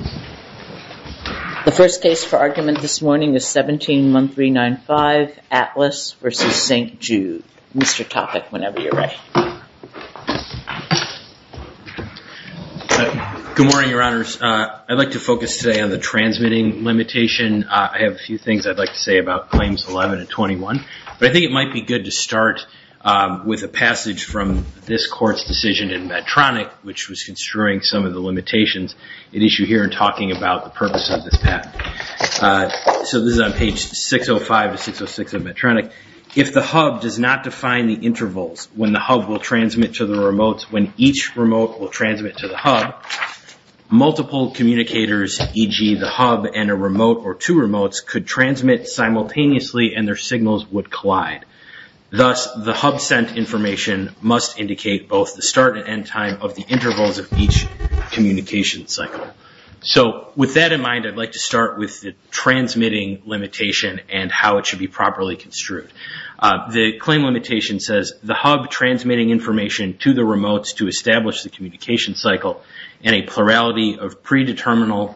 The first case for argument this morning is 17-1395, Atlas v. St. Jude. Mr. Topek, whenever you're ready. Good morning, Your Honors. I'd like to focus today on the transmitting limitation. I have a few things I'd like to say about claims 11 and 21, but I think it might be good to start with a passage from this court's decision in Medtronic, which was construing some of the limitations it issue here in talking about the purpose of this patent. So this is on page 605 to 606 of Medtronic. If the hub does not define the intervals when the hub will transmit to the remotes when each remote will transmit to the hub, multiple communicators, e.g. the hub and a remote or two remotes, could transmit simultaneously and their signals would collide. Thus, the hub sent information must indicate both the start and end time of the intervals of each communication cycle. So with that in mind, I'd like to start with the transmitting limitation and how it should be properly construed. The claim limitation says, the hub transmitting information to the remotes to establish the communication cycle in a plurality of predeterminable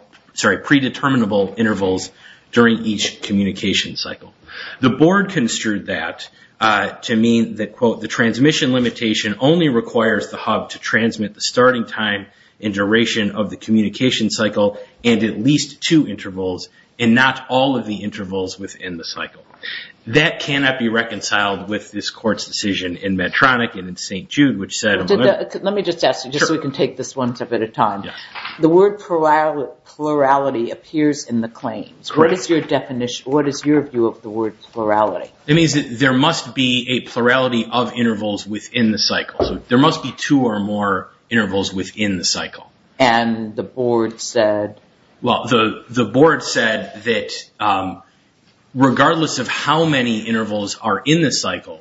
intervals during each communication cycle. The board construed that to mean that, quote, the transmission limitation only requires the hub to transmit the communication cycle and at least two intervals and not all of the intervals within the cycle. That cannot be reconciled with this court's decision in Medtronic and in St. Jude, which said... Let me just ask you, just so we can take this one step at a time. The word plurality appears in the claims. What is your definition? What is your view of the word plurality? It means that there must be a plurality of intervals within the cycle. There must be two or more and the board said... Well, the board said that regardless of how many intervals are in the cycle,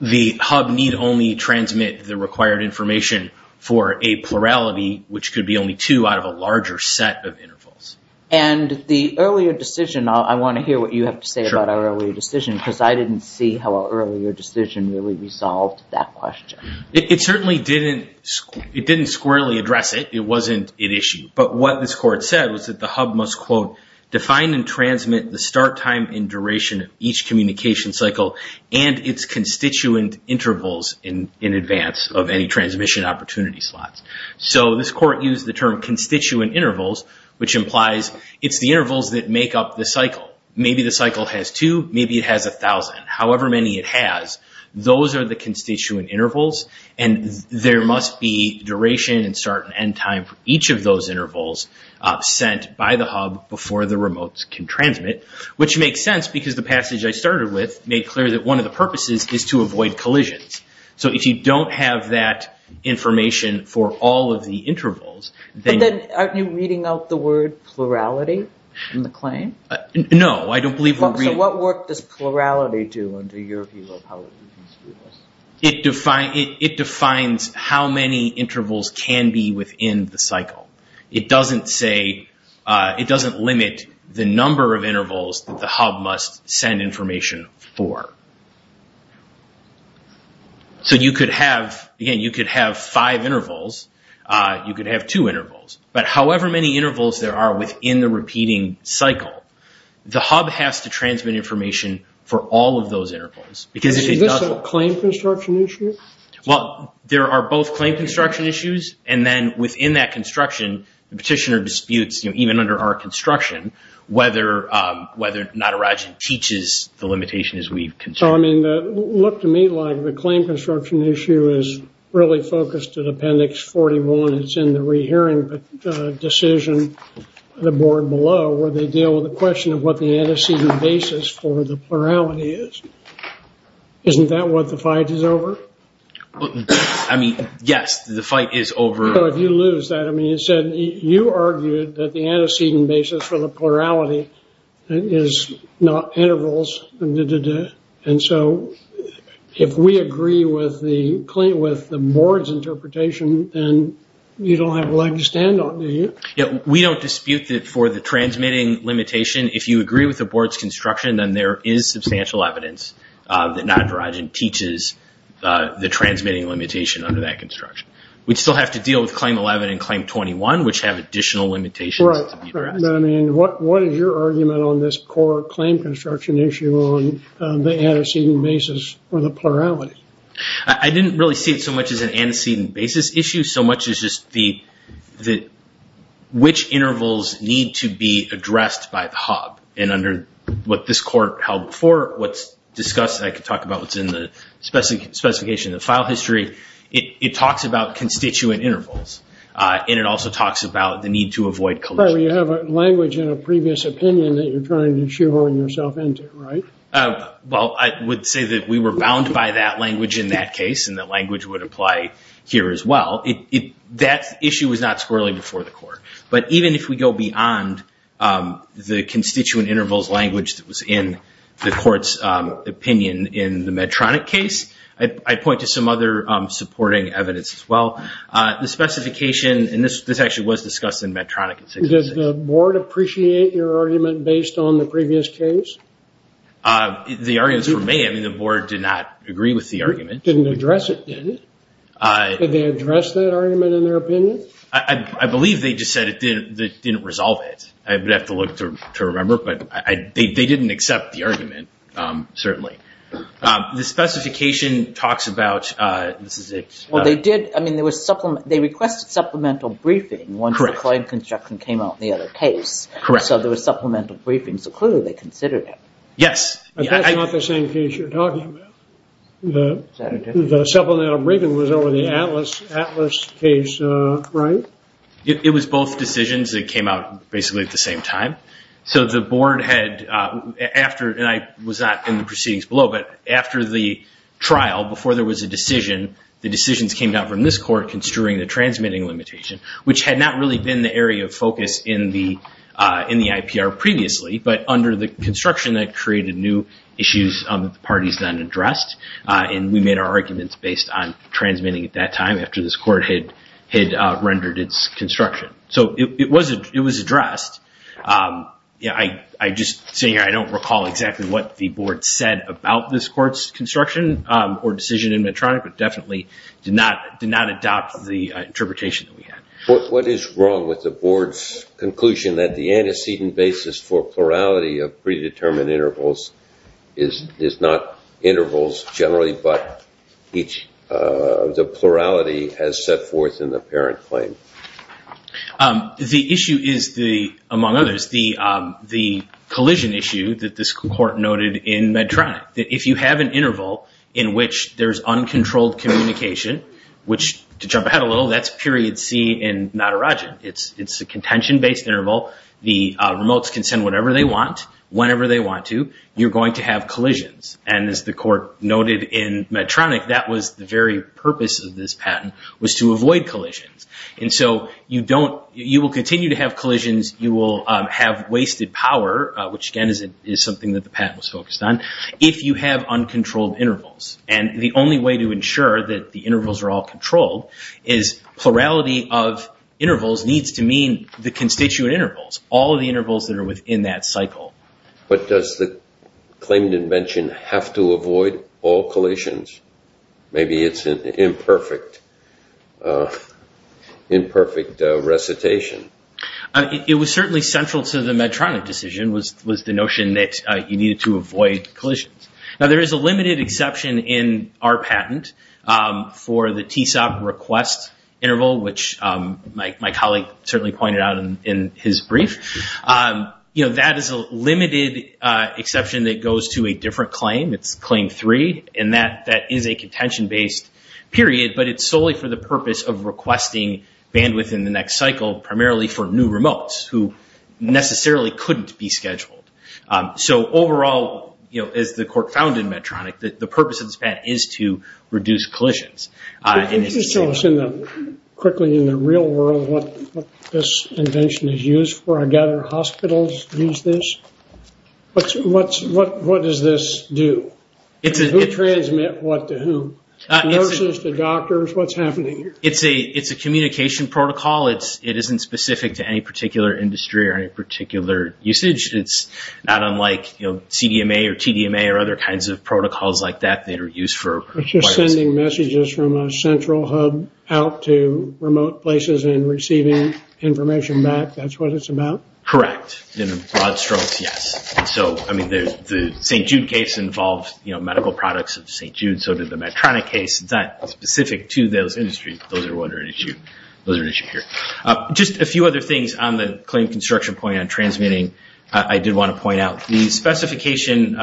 the hub need only transmit the required information for a plurality, which could be only two out of a larger set of intervals. And the earlier decision, I want to hear what you have to say about our earlier decision because I didn't see how our earlier decision really resolved that question. It certainly didn't squarely address it. It wasn't an issue. But what this court said was that the hub must, quote, define and transmit the start time and duration of each communication cycle and its constituent intervals in advance of any transmission opportunity slots. So this court used the term constituent intervals, which implies it's the intervals that make up the cycle. Maybe the cycle has two, maybe it has a thousand. However many it has, those are the constituent intervals and there must be duration and start and end time for each of those intervals sent by the hub before the remotes can transmit, which makes sense because the passage I started with made clear that one of the purposes is to avoid collisions. So if you don't have that information for all of the intervals, then... But then aren't you reading out the word plurality in the claim? No, I don't believe we're reading... So what work does plurality do under your view of how it... It defines how many intervals can be within the cycle. It doesn't say... It doesn't limit the number of intervals that the hub must send information for. So you could have, again, you could have five intervals. You could have two intervals. But however many intervals there are in the repeating cycle, the hub has to transmit information for all of those intervals. Because if it doesn't... Is this a claim construction issue? Well, there are both claim construction issues and then within that construction, the petitioner disputes, you know, even under our construction, whether Natarajan teaches the limitation as we've... So, I mean, look to me like the claim construction issue is really focused at Appendix 41. It's in the board below where they deal with the question of what the antecedent basis for the plurality is. Isn't that what the fight is over? I mean, yes, the fight is over. So if you lose that, I mean, you said you argued that the antecedent basis for the plurality is not intervals. And so if we agree with the board's interpretation, then you don't have a leg to stand on, do you? We don't dispute that for the transmitting limitation, if you agree with the board's construction, then there is substantial evidence that Natarajan teaches the transmitting limitation under that construction. We'd still have to deal with Claim 11 and Claim 21, which have additional limitations. Right. But I mean, what is your argument on this core claim construction issue on the antecedent basis for the plurality? I didn't really see it so much as an antecedent basis issue, so much as just the which intervals need to be addressed by the HUB. And under what this court held before, what's discussed, I could talk about what's in the specification, the file history. It talks about constituent intervals. And it also talks about the need to avoid collusion. You have a language in a previous opinion that you're trying to chew on yourself into, right? Well, I would say that we were bound by that language in that case, and that issue was not squirrelly before the court. But even if we go beyond the constituent intervals language that was in the court's opinion in the Medtronic case, I'd point to some other supporting evidence as well. The specification, and this actually was discussed in Medtronic. Does the board appreciate your argument based on the previous case? The arguments were made. I mean, the board did not agree with the argument. Didn't address it, did it? Did they address that argument in their opinion? I believe they just said it didn't resolve it. I would have to look to remember, but they didn't accept the argument, certainly. The specification talks about, this is a... Well, they did. I mean, there was supplement. They requested supplemental briefing once the client construction came out in the other case. Correct. So there was supplemental briefings, a clue they considered it. Yes. That's not the same case you're talking about. The supplemental briefing was over the Atlas case, right? It was both decisions that came out basically at the same time. So the board had, after, and I was not in the proceedings below, but after the trial, before there was a decision, the decisions came down from this court construing the transmitting limitation, which had not really been the area of focus in the IPR previously, but under the construction that created new issues that the parties then addressed. And we made our arguments based on transmitting at that time after this court had rendered its construction. So it was addressed. I just, sitting here, I don't recall exactly what the board said about this court's construction or decision in Medtronic, but definitely did not adopt the interpretation that we had. What is wrong with the board's conclusion that the antecedent basis for is not intervals generally, but each, the plurality has set forth in the parent claim? The issue is the, among others, the collision issue that this court noted in Medtronic, that if you have an interval in which there's uncontrolled communication, which to jump ahead a little, that's period C in Natarajan. It's a contention-based interval. The remotes can send whatever they want, whenever they want to, you're going to have collisions. And as the court noted in Medtronic, that was the very purpose of this patent, was to avoid collisions. And so you don't, you will continue to have collisions, you will have wasted power, which again is something that the patent was focused on, if you have uncontrolled intervals. And the only way to ensure that the intervals are all controlled is plurality of intervals needs to mean the constituent intervals, all of the intervals that are within that cycle. But does the claimed invention have to avoid all collisions? Maybe it's an imperfect, imperfect recitation. It was certainly central to the Medtronic decision, was the notion that you needed to avoid collisions. Now there is a limited exception in our patent for the TSOB request interval, which my colleague certainly pointed out in his brief. That is a limited exception that goes to a different claim, it's claim three, and that is a contention-based period, but it's solely for the purpose of requesting bandwidth in the next cycle, primarily for new remotes, who necessarily couldn't be scheduled. So overall, as the court found in Medtronic, the purpose of this patent is to reduce collisions. Can you just tell us quickly in the real world what this invention is used for? I gather hospitals use this? What does this do? Who transmits what to who? Nurses to doctors? What's happening here? It's a communication protocol. It isn't specific to any particular industry or any particular usage. It's not unlike CDMA or TDMA or other kinds of protocols like that that are used for... It's just sending messages from a central hub out to remote places and receiving information back. That's what it's about? Correct. In broad strokes, yes. The St. Jude case involves medical products of St. Jude, so did the Medtronic case. It's not specific to those industries. Those are an issue here. Just a few other things on the claim construction point and transmitting I did want to point out. The specification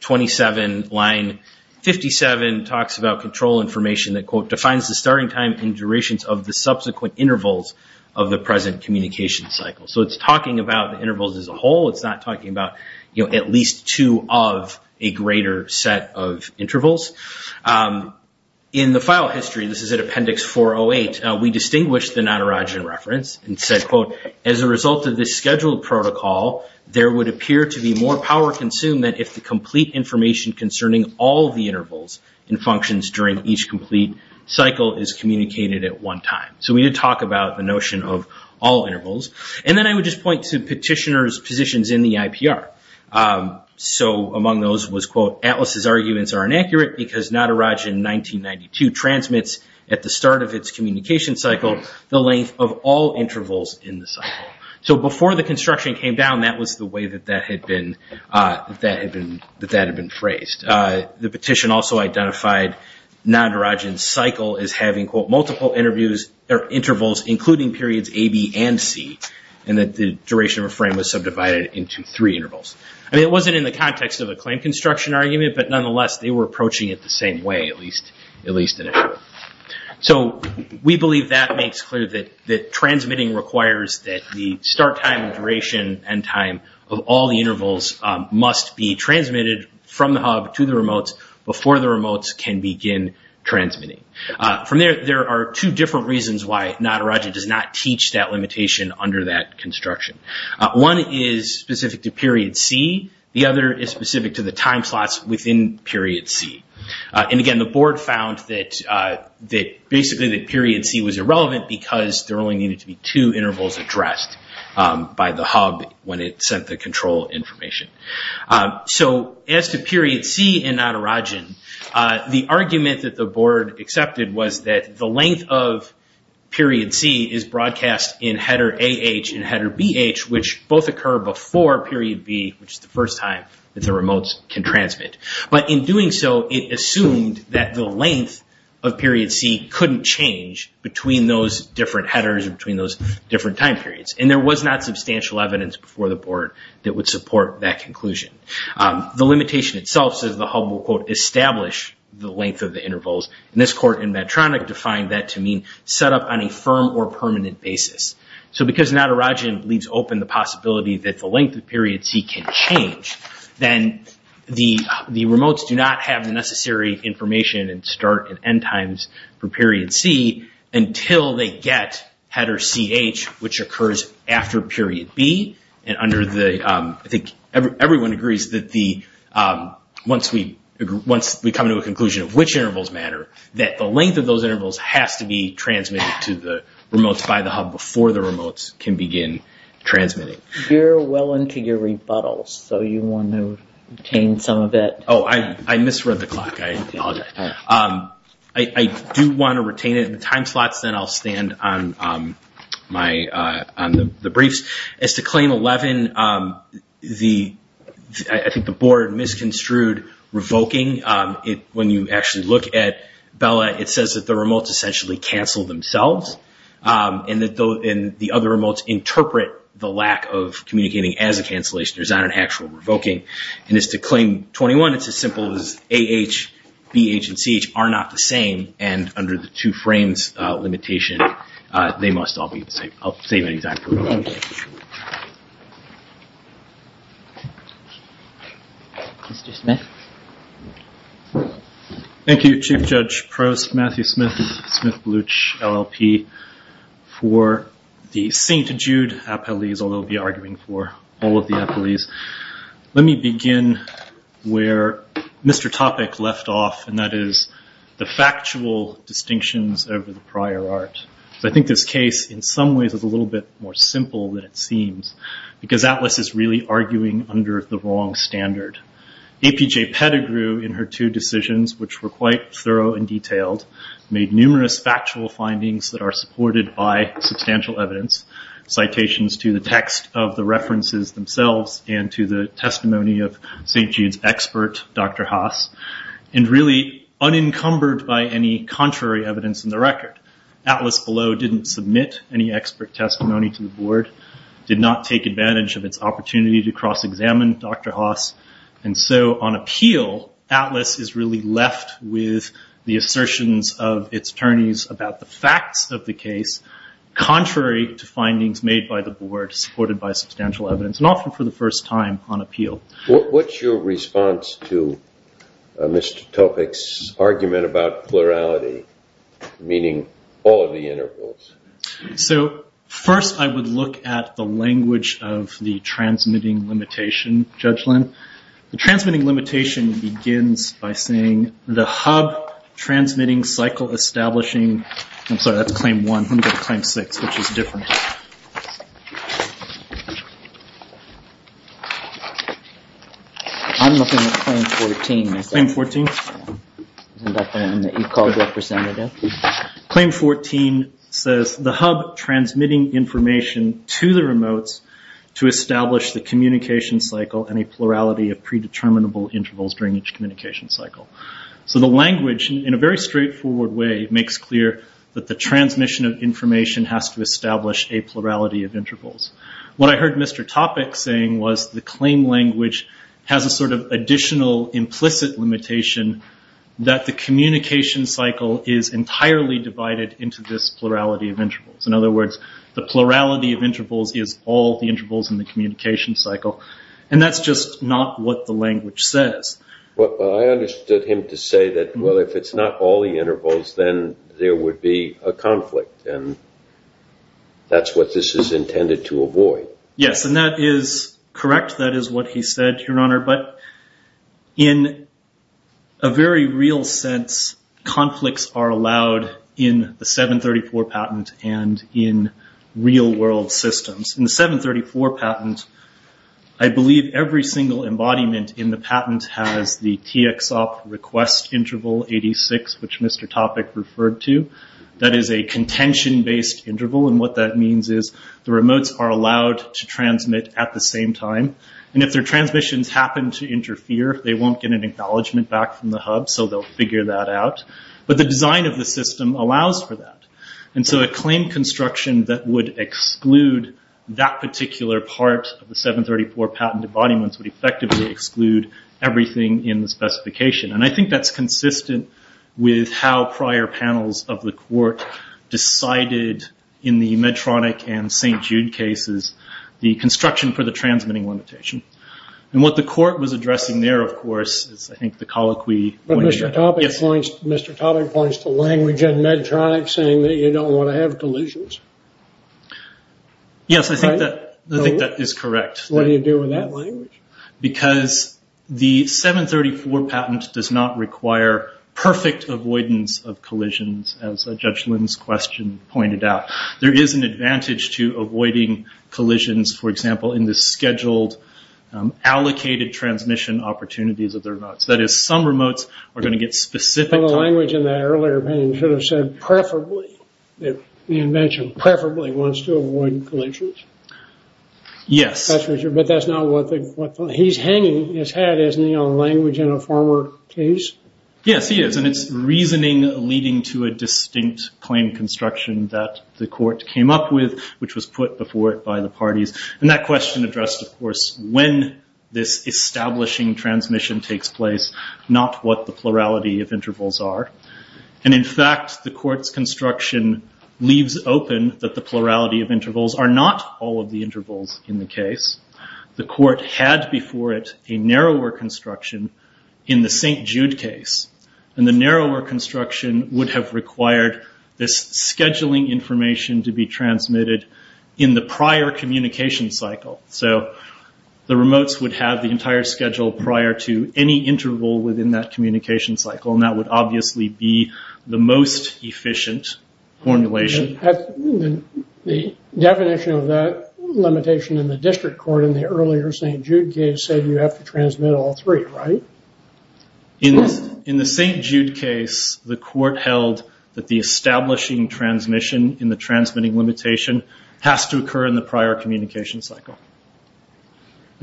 27 line 57 talks about control information that, quote, defines the starting time and durations of the subsequent intervals of the present communication cycle. So it's talking about the intervals as a whole. It's not talking about at least two of a greater set of intervals. In the file history, this is at appendix 408, we distinguished the Natarajan reference and said, quote, as a result of this scheduled protocol, there would appear to be more power consumed than if the complete information concerning all the intervals and functions during each complete cycle is communicated at one time. So we did talk about the notion of all intervals. Then I would just point to petitioner's positions in the IPR. Among those was, quote, Atlas's arguments are inaccurate because Natarajan 1992 transmits at the start of its communication cycle the length of all intervals in the cycle. So before the construction came down, that was the way that that had been phrased. The petition also identified Natarajan's cycle as having, quote, multiple intervals including periods A, B, and C and that the duration of a frame was subdivided into three intervals. I mean, it wasn't in the context of a claim construction argument, but nonetheless, they were at least in it. So we believe that makes clear that transmitting requires that the start time and duration and time of all the intervals must be transmitted from the hub to the remotes before the remotes can begin transmitting. From there, there are two different reasons why Natarajan does not teach that limitation under that construction. One is specific to period C. The other is the time slots within period C. And again, the board found that basically that period C was irrelevant because there only needed to be two intervals addressed by the hub when it sent the control information. So as to period C in Natarajan, the argument that the board accepted was that the length of period C is broadcast in header A-H and header B-H, which both occur before period B, which is the first time that the remotes can transmit. But in doing so, it assumed that the length of period C couldn't change between those different headers and between those different time periods. And there was not substantial evidence before the board that would support that conclusion. The limitation itself says the hub will, quote, establish the length of the intervals. And this court in Medtronic defined that to mean set up on a firm or permanent basis. So because Natarajan leaves open the possibility that the length of period C can change, then the remotes do not have the necessary information and start and end times for period C until they get header C-H, which occurs after period B. And I think everyone agrees that once we come to a conclusion of which intervals matter, that the length of those intervals has to be transmitted to the remotes by the hub before the remotes can begin transmitting. You're well into your rebuttals, so you want to retain some of it. Oh, I misread the clock. I apologize. I do want to retain it in the time slots. Then I'll stand on the briefs. As to Claim 11, I think the board misconstrued revoking. When you actually look at BELLA, it says that the remotes interpret the lack of communicating as a cancellation. There's not an actual revoking. And as to Claim 21, it's as simple as A-H, B-H, and C-H are not the same. And under the two frames limitation, they must all be the same. I'll save any time for revoking. Thank you, Chief Judge Prost, Matthew Smith, Smith, Bluch, LLP, for the St. Jude Appellees, although I'll be arguing for all of the appellees. Let me begin where Mr. Topic left off, and that is the factual distinctions over the whole that it seems, because ATLAS is really arguing under the wrong standard. APJ Pettigrew, in her two decisions, which were quite thorough and detailed, made numerous factual findings that are supported by substantial evidence, citations to the text of the references themselves and to the testimony of St. Jude's expert, Dr. Haas, and really unencumbered by any contrary evidence in the record. ATLAS below didn't submit any expert testimony to the Board, did not take advantage of its opportunity to cross-examine Dr. Haas, and so on appeal, ATLAS is really left with the assertions of its attorneys about the facts of the case, contrary to findings made by the Board, supported by substantial evidence, and often for the first time on appeal. What's your response to Mr. Topic's assertions about plurality, meaning all of the intervals? So, first I would look at the language of the transmitting limitation judgment. The transmitting limitation begins by saying, the hub transmitting cycle establishing, I'm sorry, that's claim one, let me go to claim six, which is the one that you called representative. Claim 14 says, the hub transmitting information to the remotes to establish the communication cycle and a plurality of predeterminable intervals during each communication cycle. So the language, in a very straightforward way, makes clear that the transmission of information has to establish a plurality of intervals. What I heard Mr. Topic saying was, the claim language has a sort of additional implicit limitation that the communication cycle is entirely divided into this plurality of intervals. In other words, the plurality of intervals is all the intervals in the communication cycle. And that's just not what the language says. Well, I understood him to say that, well, if it's not all the intervals, then there would be a conflict. And that's what this is intended to avoid. Yes, and that is correct. That is what he said, Your Honor. But in a very real sense, conflicts are allowed in the 734 patent and in real world systems. In the 734 patent, I believe every single embodiment in the patent has the TXOP request interval 86, which Mr. Topic referred to. That is a contention-based interval. And what that means is, the remotes are allowed to transmit at the same time. And if their remotes happen to interfere, they won't get an acknowledgment back from the hub, so they'll figure that out. But the design of the system allows for that. And so a claim construction that would exclude that particular part of the 734 patented embodiments would effectively exclude everything in the specification. And I think that's consistent with how prior panels of the court decided, in the Medtronic and St. Jude cases, the construction for the 734. What the court was addressing there, of course, is I think the colloquy... But Mr. Topic points to language in Medtronic saying that you don't want to have collisions. Yes, I think that is correct. What do you do with that language? Because the 734 patent does not require perfect avoidance of collisions, as Judge Lim's question pointed out. There is an advantage to avoiding collisions, for example, in the scheduled allocated transmission opportunities of their remotes. That is, some remotes are going to get specific... But the language in that earlier opinion should have said, preferably, the invention preferably wants to avoid collisions. Yes. But that's not what... He's hanging his head, isn't he, on language in a former case? Yes, he is. And it's reasoning leading to a distinct claim construction that the court came up with, which was put before it by the parties. And that question addressed, of course, when this establishing transmission takes place, not what the plurality of intervals are. And in fact, the court's construction leaves open that the plurality of intervals are not all of the intervals in the case. The court had before it a narrower construction in the St. Jude case. And the narrower construction would have required this scheduling information to be transmitted in the prior communication cycle. So the remotes would have the entire schedule prior to any interval within that communication cycle, and that would obviously be the most efficient formulation. The definition of that limitation in the district court in the earlier St. Jude case said you have to transmit all three, right? In the St. Jude case, the court held that the establishing transmission in the transmitting limitation has to occur in the prior communication cycle.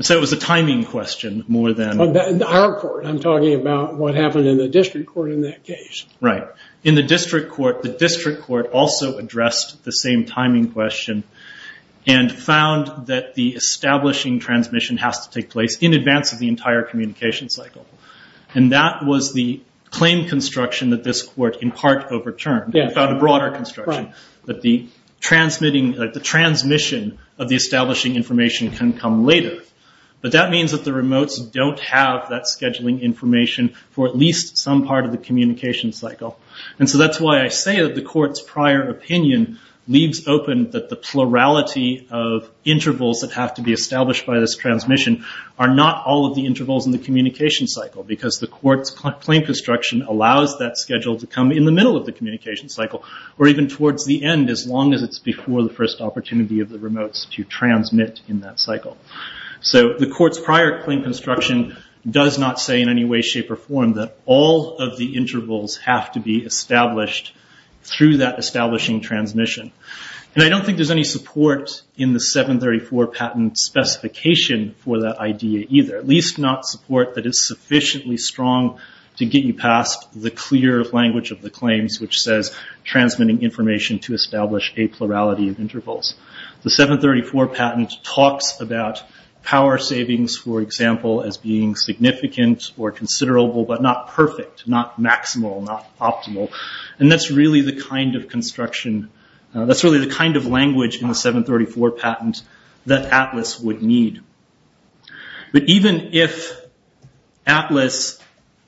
So it was a timing question more than... In our court, I'm talking about what happened in the district court in that case. Right. In the district court, the district court also addressed the same timing question and found that the establishing transmission has to take place in advance of the entire communication cycle. And that was the claim construction that this court in part overturned and found a broader construction, that the transmitting, that the transmission of the establishing information can come later. But that means that the remotes don't have that scheduling information for at least some part of the communication cycle. And so that's why I say that the court's prior opinion leaves open that the remotes are not all of the intervals in the communication cycle because the court's claim construction allows that schedule to come in the middle of the communication cycle or even towards the end as long as it's before the first opportunity of the remotes to transmit in that cycle. So the court's prior claim construction does not say in any way, shape or form that all of the intervals have to be established through that establishing transmission. And I don't think there's any support in the 734 patent specification for that idea either, at least not support that is sufficiently strong to get you past the clear language of the claims which says transmitting information to establish a plurality of intervals. The 734 patent talks about power savings, for example, as being significant or considerable but not perfect, not maximal, not optimal. And that's really the kind of construction, But even if ATLAS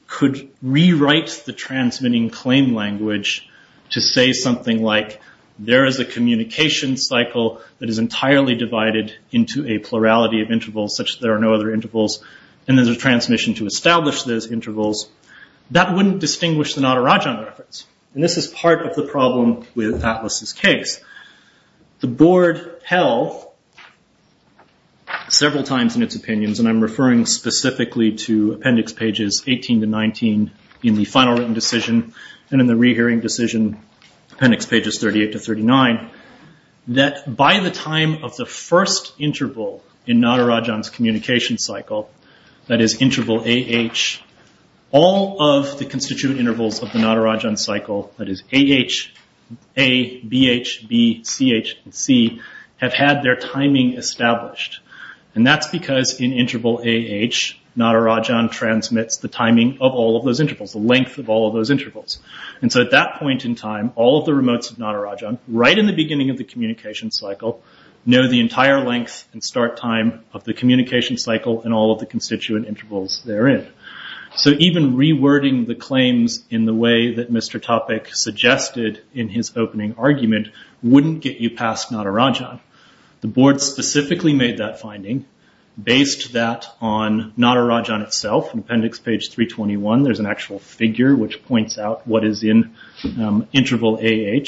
could rewrite the transmitting claim language to say something like there is a communication cycle that is entirely divided into a plurality of intervals such that there are no other intervals and there's a transmission to establish those intervals, that wouldn't distinguish the Natarajan reference. And this is part of the problem with ATLAS' case. The board held several times in its opinions, and I'm referring specifically to appendix pages 18 to 19 in the final written decision and in the rehearing decision, appendix pages 38 to 39, that by the time of the first interval in Natarajan's communication cycle, that is interval AH, all of the constituent intervals of the Natarajan cycle, that is AH, A, BH, B, CH, and C, have had their timing established. And that's because in interval AH, Natarajan transmits the timing of all of those intervals, the length of all of those intervals. And so at that point in time, all of the remotes of Natarajan, right in the beginning of the communication cycle, know the entire length and start time of the communication cycle and all of the constituent intervals therein. So even rewording the claims in the way that Mr. Topek suggested in his opening argument wouldn't get you past Natarajan. The board specifically made that finding, based that on Natarajan itself, in appendix page 321, there's an actual figure which points out what is in interval AH,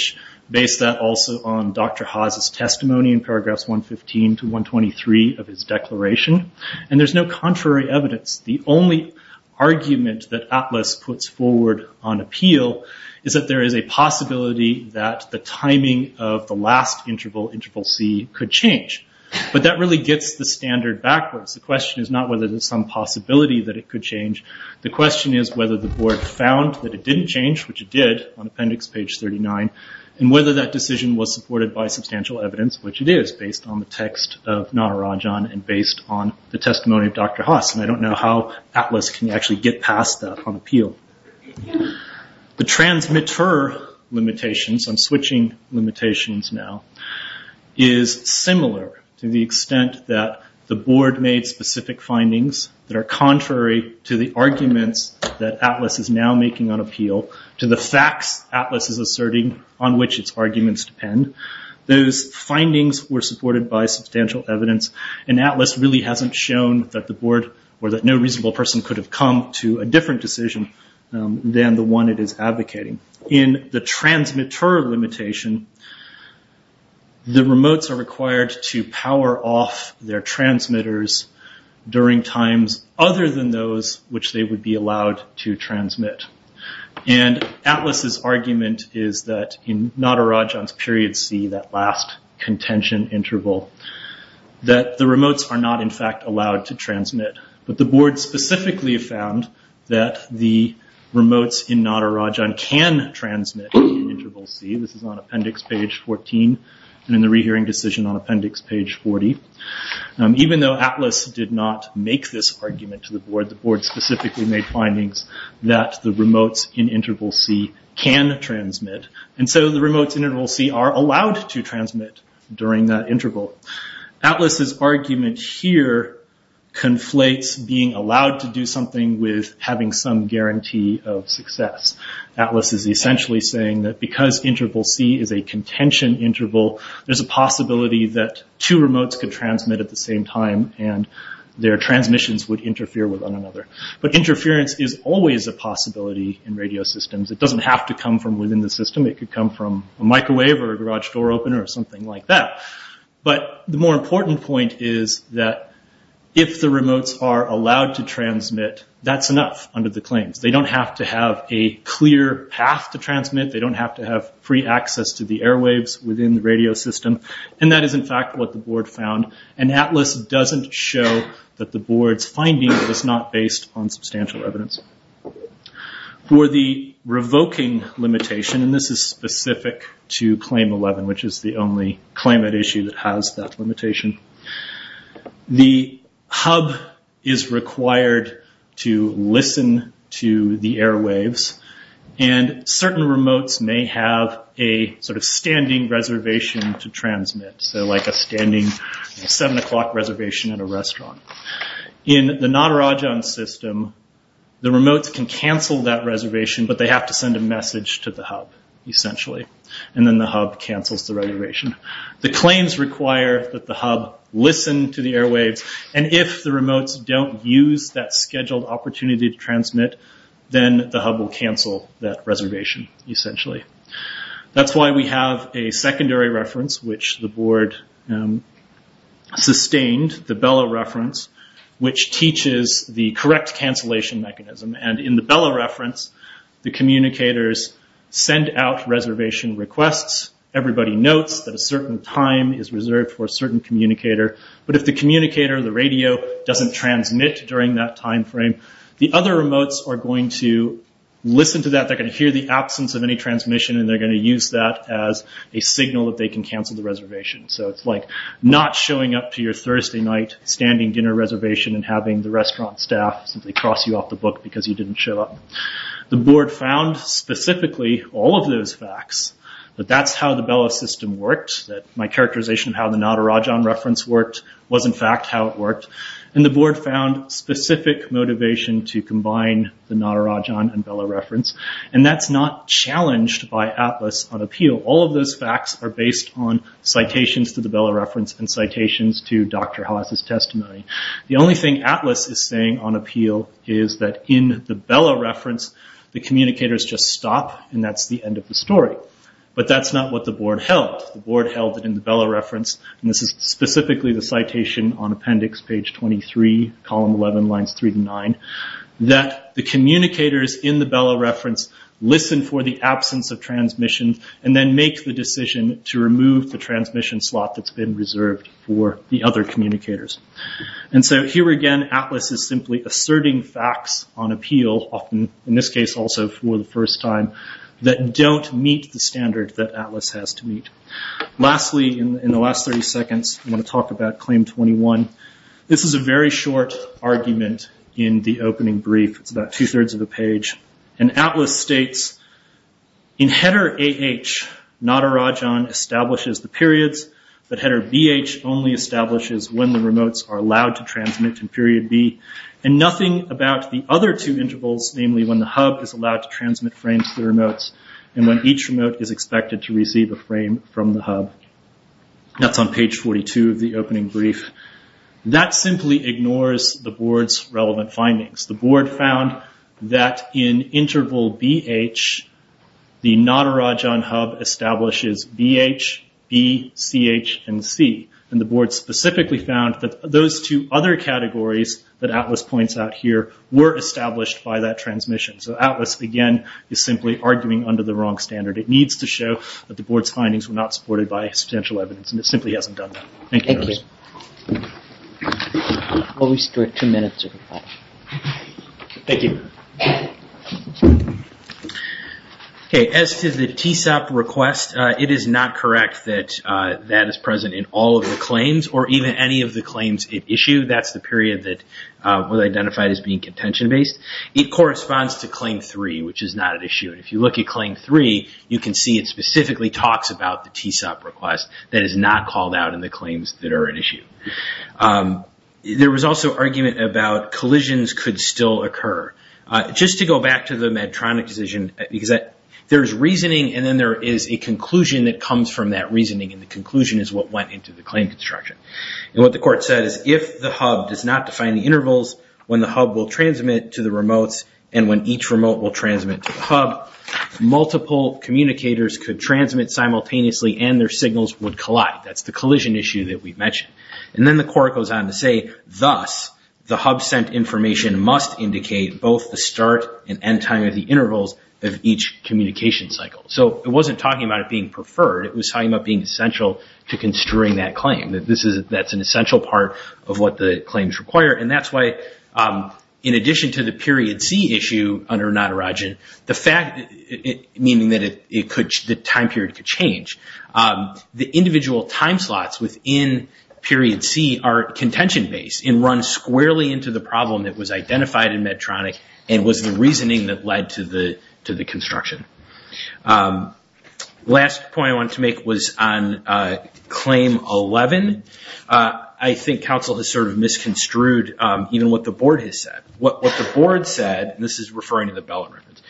based that also on Dr. Haas' testimony in paragraphs 115 to 123 of his declaration. And there's no contrary evidence. The only argument that ATLAS puts forward on appeal is that there is a possibility that the timing of the last interval, interval C, could change. But that really gets the standard backwards. The question is not whether there's some possibility that it could change. The question is whether the board found that it didn't change, which it did on appendix page 39, and whether that decision was supported by substantial evidence, which it is based on the text of Natarajan and based on the testimony of Dr. Haas. And I don't know how ATLAS can actually get past that on appeal. The transmitter limitations, I'm switching limitations now, is similar to the extent that the board made specific findings that are contrary to the arguments that ATLAS is now making on appeal, to the facts ATLAS is asserting on which its arguments depend. Those findings were supported by substantial evidence, and ATLAS really hasn't shown that the board, or that no reasonable person could have come to a different decision than the one it is advocating. In the transmitter limitation, the remotes are required to power off their transmitters during times other than those which they would be allowed to transmit. And ATLAS's argument is that in Natarajan's period C, that last contention interval, that the remotes are not in fact allowed to transmit. But the board specifically found that the remotes in Natarajan can transmit in interval C. This is on appendix page 14 and in the rehearing decision on appendix page 40. Even though ATLAS did not make this argument to the board, the board specifically made findings that the remotes in interval C can transmit. And so the remotes in interval C are allowed to transmit during that contention interval. ATLAS's argument here conflates being allowed to do something with having some guarantee of success. ATLAS is essentially saying that because interval C is a contention interval, there's a possibility that two remotes could transmit at the same time, and their transmissions would interfere with one another. But interference is always a possibility in radio systems. It doesn't have to come from within the system. It could come from a microwave or a garage door opener or something like that. But the more important point is that if the remotes are allowed to transmit, that's enough under the claims. They don't have to have a clear path to transmit. They don't have to have free access to the airwaves within the radio system. And that is, in fact, what the board found. And ATLAS doesn't show that the board's finding was not based on substantial evidence. For the revoking limitation, and this is specific to Claim 11, which is the only claimant issue that has that limitation, the hub is required to listen to the airwaves. And certain remotes may have a sort of standing reservation to transmit, so like a standing 7 o'clock reservation at a restaurant. In the Natarajan system, the remotes can cancel that reservation, but they have to send a message to the hub, essentially. And then the hub cancels the reservation. The claims require that the hub listen to the airwaves, and if the remotes don't use that scheduled opportunity to transmit, then the hub will cancel that reservation, essentially. That's why we have a secondary reference, which the board sustained, the BELLA reference, which teaches the correct cancellation mechanism. And in the BELLA reference, the communicators send out reservation requests. Everybody notes that a certain time is reserved for a certain communicator. But if the communicator, the radio, doesn't transmit during that time frame, the other remotes are going to listen to that. They're going to hear the absence of any transmission, and they're going to use that as a signal that they can cancel the reservation. So it's like not showing up to your Thursday night standing dinner reservation and having the restaurant staff simply cross you off the book because you didn't show up. The board found, specifically, all of those facts, that that's how the BELLA system worked, that my characterization of how the Natarajan reference worked was, in fact, how it worked. And the board found specific motivation to combine the Natarajan and BELLA reference, and that's not challenged by ATLAS on appeal. All of those facts are based on citations to the BELLA reference and citations to Dr. Haas's testimony. The only thing ATLAS is saying on appeal is that in the BELLA reference, the communicators just stop, and that's the end of the story. But that's not what the board held. The board held that in the BELLA reference, and this is specifically the citation on appendix page 23, column 11, lines 3 to 9, that the communicators in the BELLA reference listen for the absence of transmission and then make the decision to remove the transmission slot that's been reserved for the other communicators. And so here again, ATLAS is simply asserting facts on appeal, often in this case also for the first time, that don't meet the standard that ATLAS has to meet. Lastly, in the last 30 seconds, I'm going to talk about Claim 21. This is a very short argument in the opening brief. It's about two-thirds of a page. And ATLAS states, in header AH, Nadarajan establishes the periods, but header BH only establishes when the remotes are allowed to transmit in period B, and nothing about the other two intervals, namely when the hub is allowed to transmit frames to the remotes and when each remote is expected to receive a frame from the hub. That's on page 42 of the opening brief. That simply ignores the board's relevant findings. The board found that in interval BH, the Nadarajan hub establishes BH, B, CH, and C. And the board specifically found that those two other categories that ATLAS points out here were established by that transmission. So ATLAS, again, is simply arguing under the wrong standard. It needs to show that the board's findings were not supported by substantial evidence, and it simply hasn't done that. Thank you. I'll restrict two minutes. Thank you. As to the TSOP request, it is not correct that that is present in all of the claims, or even any of the claims it issued. That's the period that was identified as being contention-based. It corresponds to Claim 3, which is not at issue. If you look at Claim 3, you can see it specifically talks about the TSOP request that is not called out in the claims that are at issue. There was also argument about collisions could still occur. Just to go back to the Medtronic decision, because there's reasoning and then there is a conclusion that comes from that reasoning, and the conclusion is what went into the claim construction. And what the court said is if the hub does not define the intervals when the hub will transmit to the remotes and when each remote will transmit to the hub, multiple communicators could transmit simultaneously and their signals would collide. That's the collision issue that we've mentioned. And then the court goes on to say, thus the hub sent information must indicate both the start and end time of the intervals of each communication cycle. So it wasn't talking about it being preferred. It was talking about being essential to constrain that claim. That's an essential part of what the claims require, and that's why in addition to the Period C issue under Natarajan, meaning that the time period could change, the individual time slots within Period C are contention-based and run squarely into the problem that was identified in Medtronic and was the reasoning that led to the construction. Last point I wanted to make was on Claim 11. I think counsel has sort of misconstrued even what the board has said. This is referring to the BELLA records.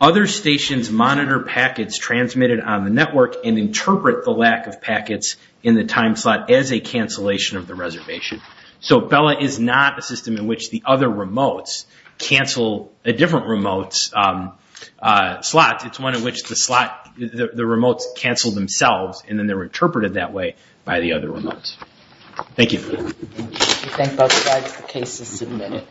Other stations monitor packets transmitted on the network and interpret the lack of packets in the time slot as a cancellation of the reservation. So BELLA is not a system in which the other remotes cancel different slots. It's one in which the remotes cancel themselves and then they're interpreted that way by the other remotes. Thank you. I thank both sides. The case is submitted.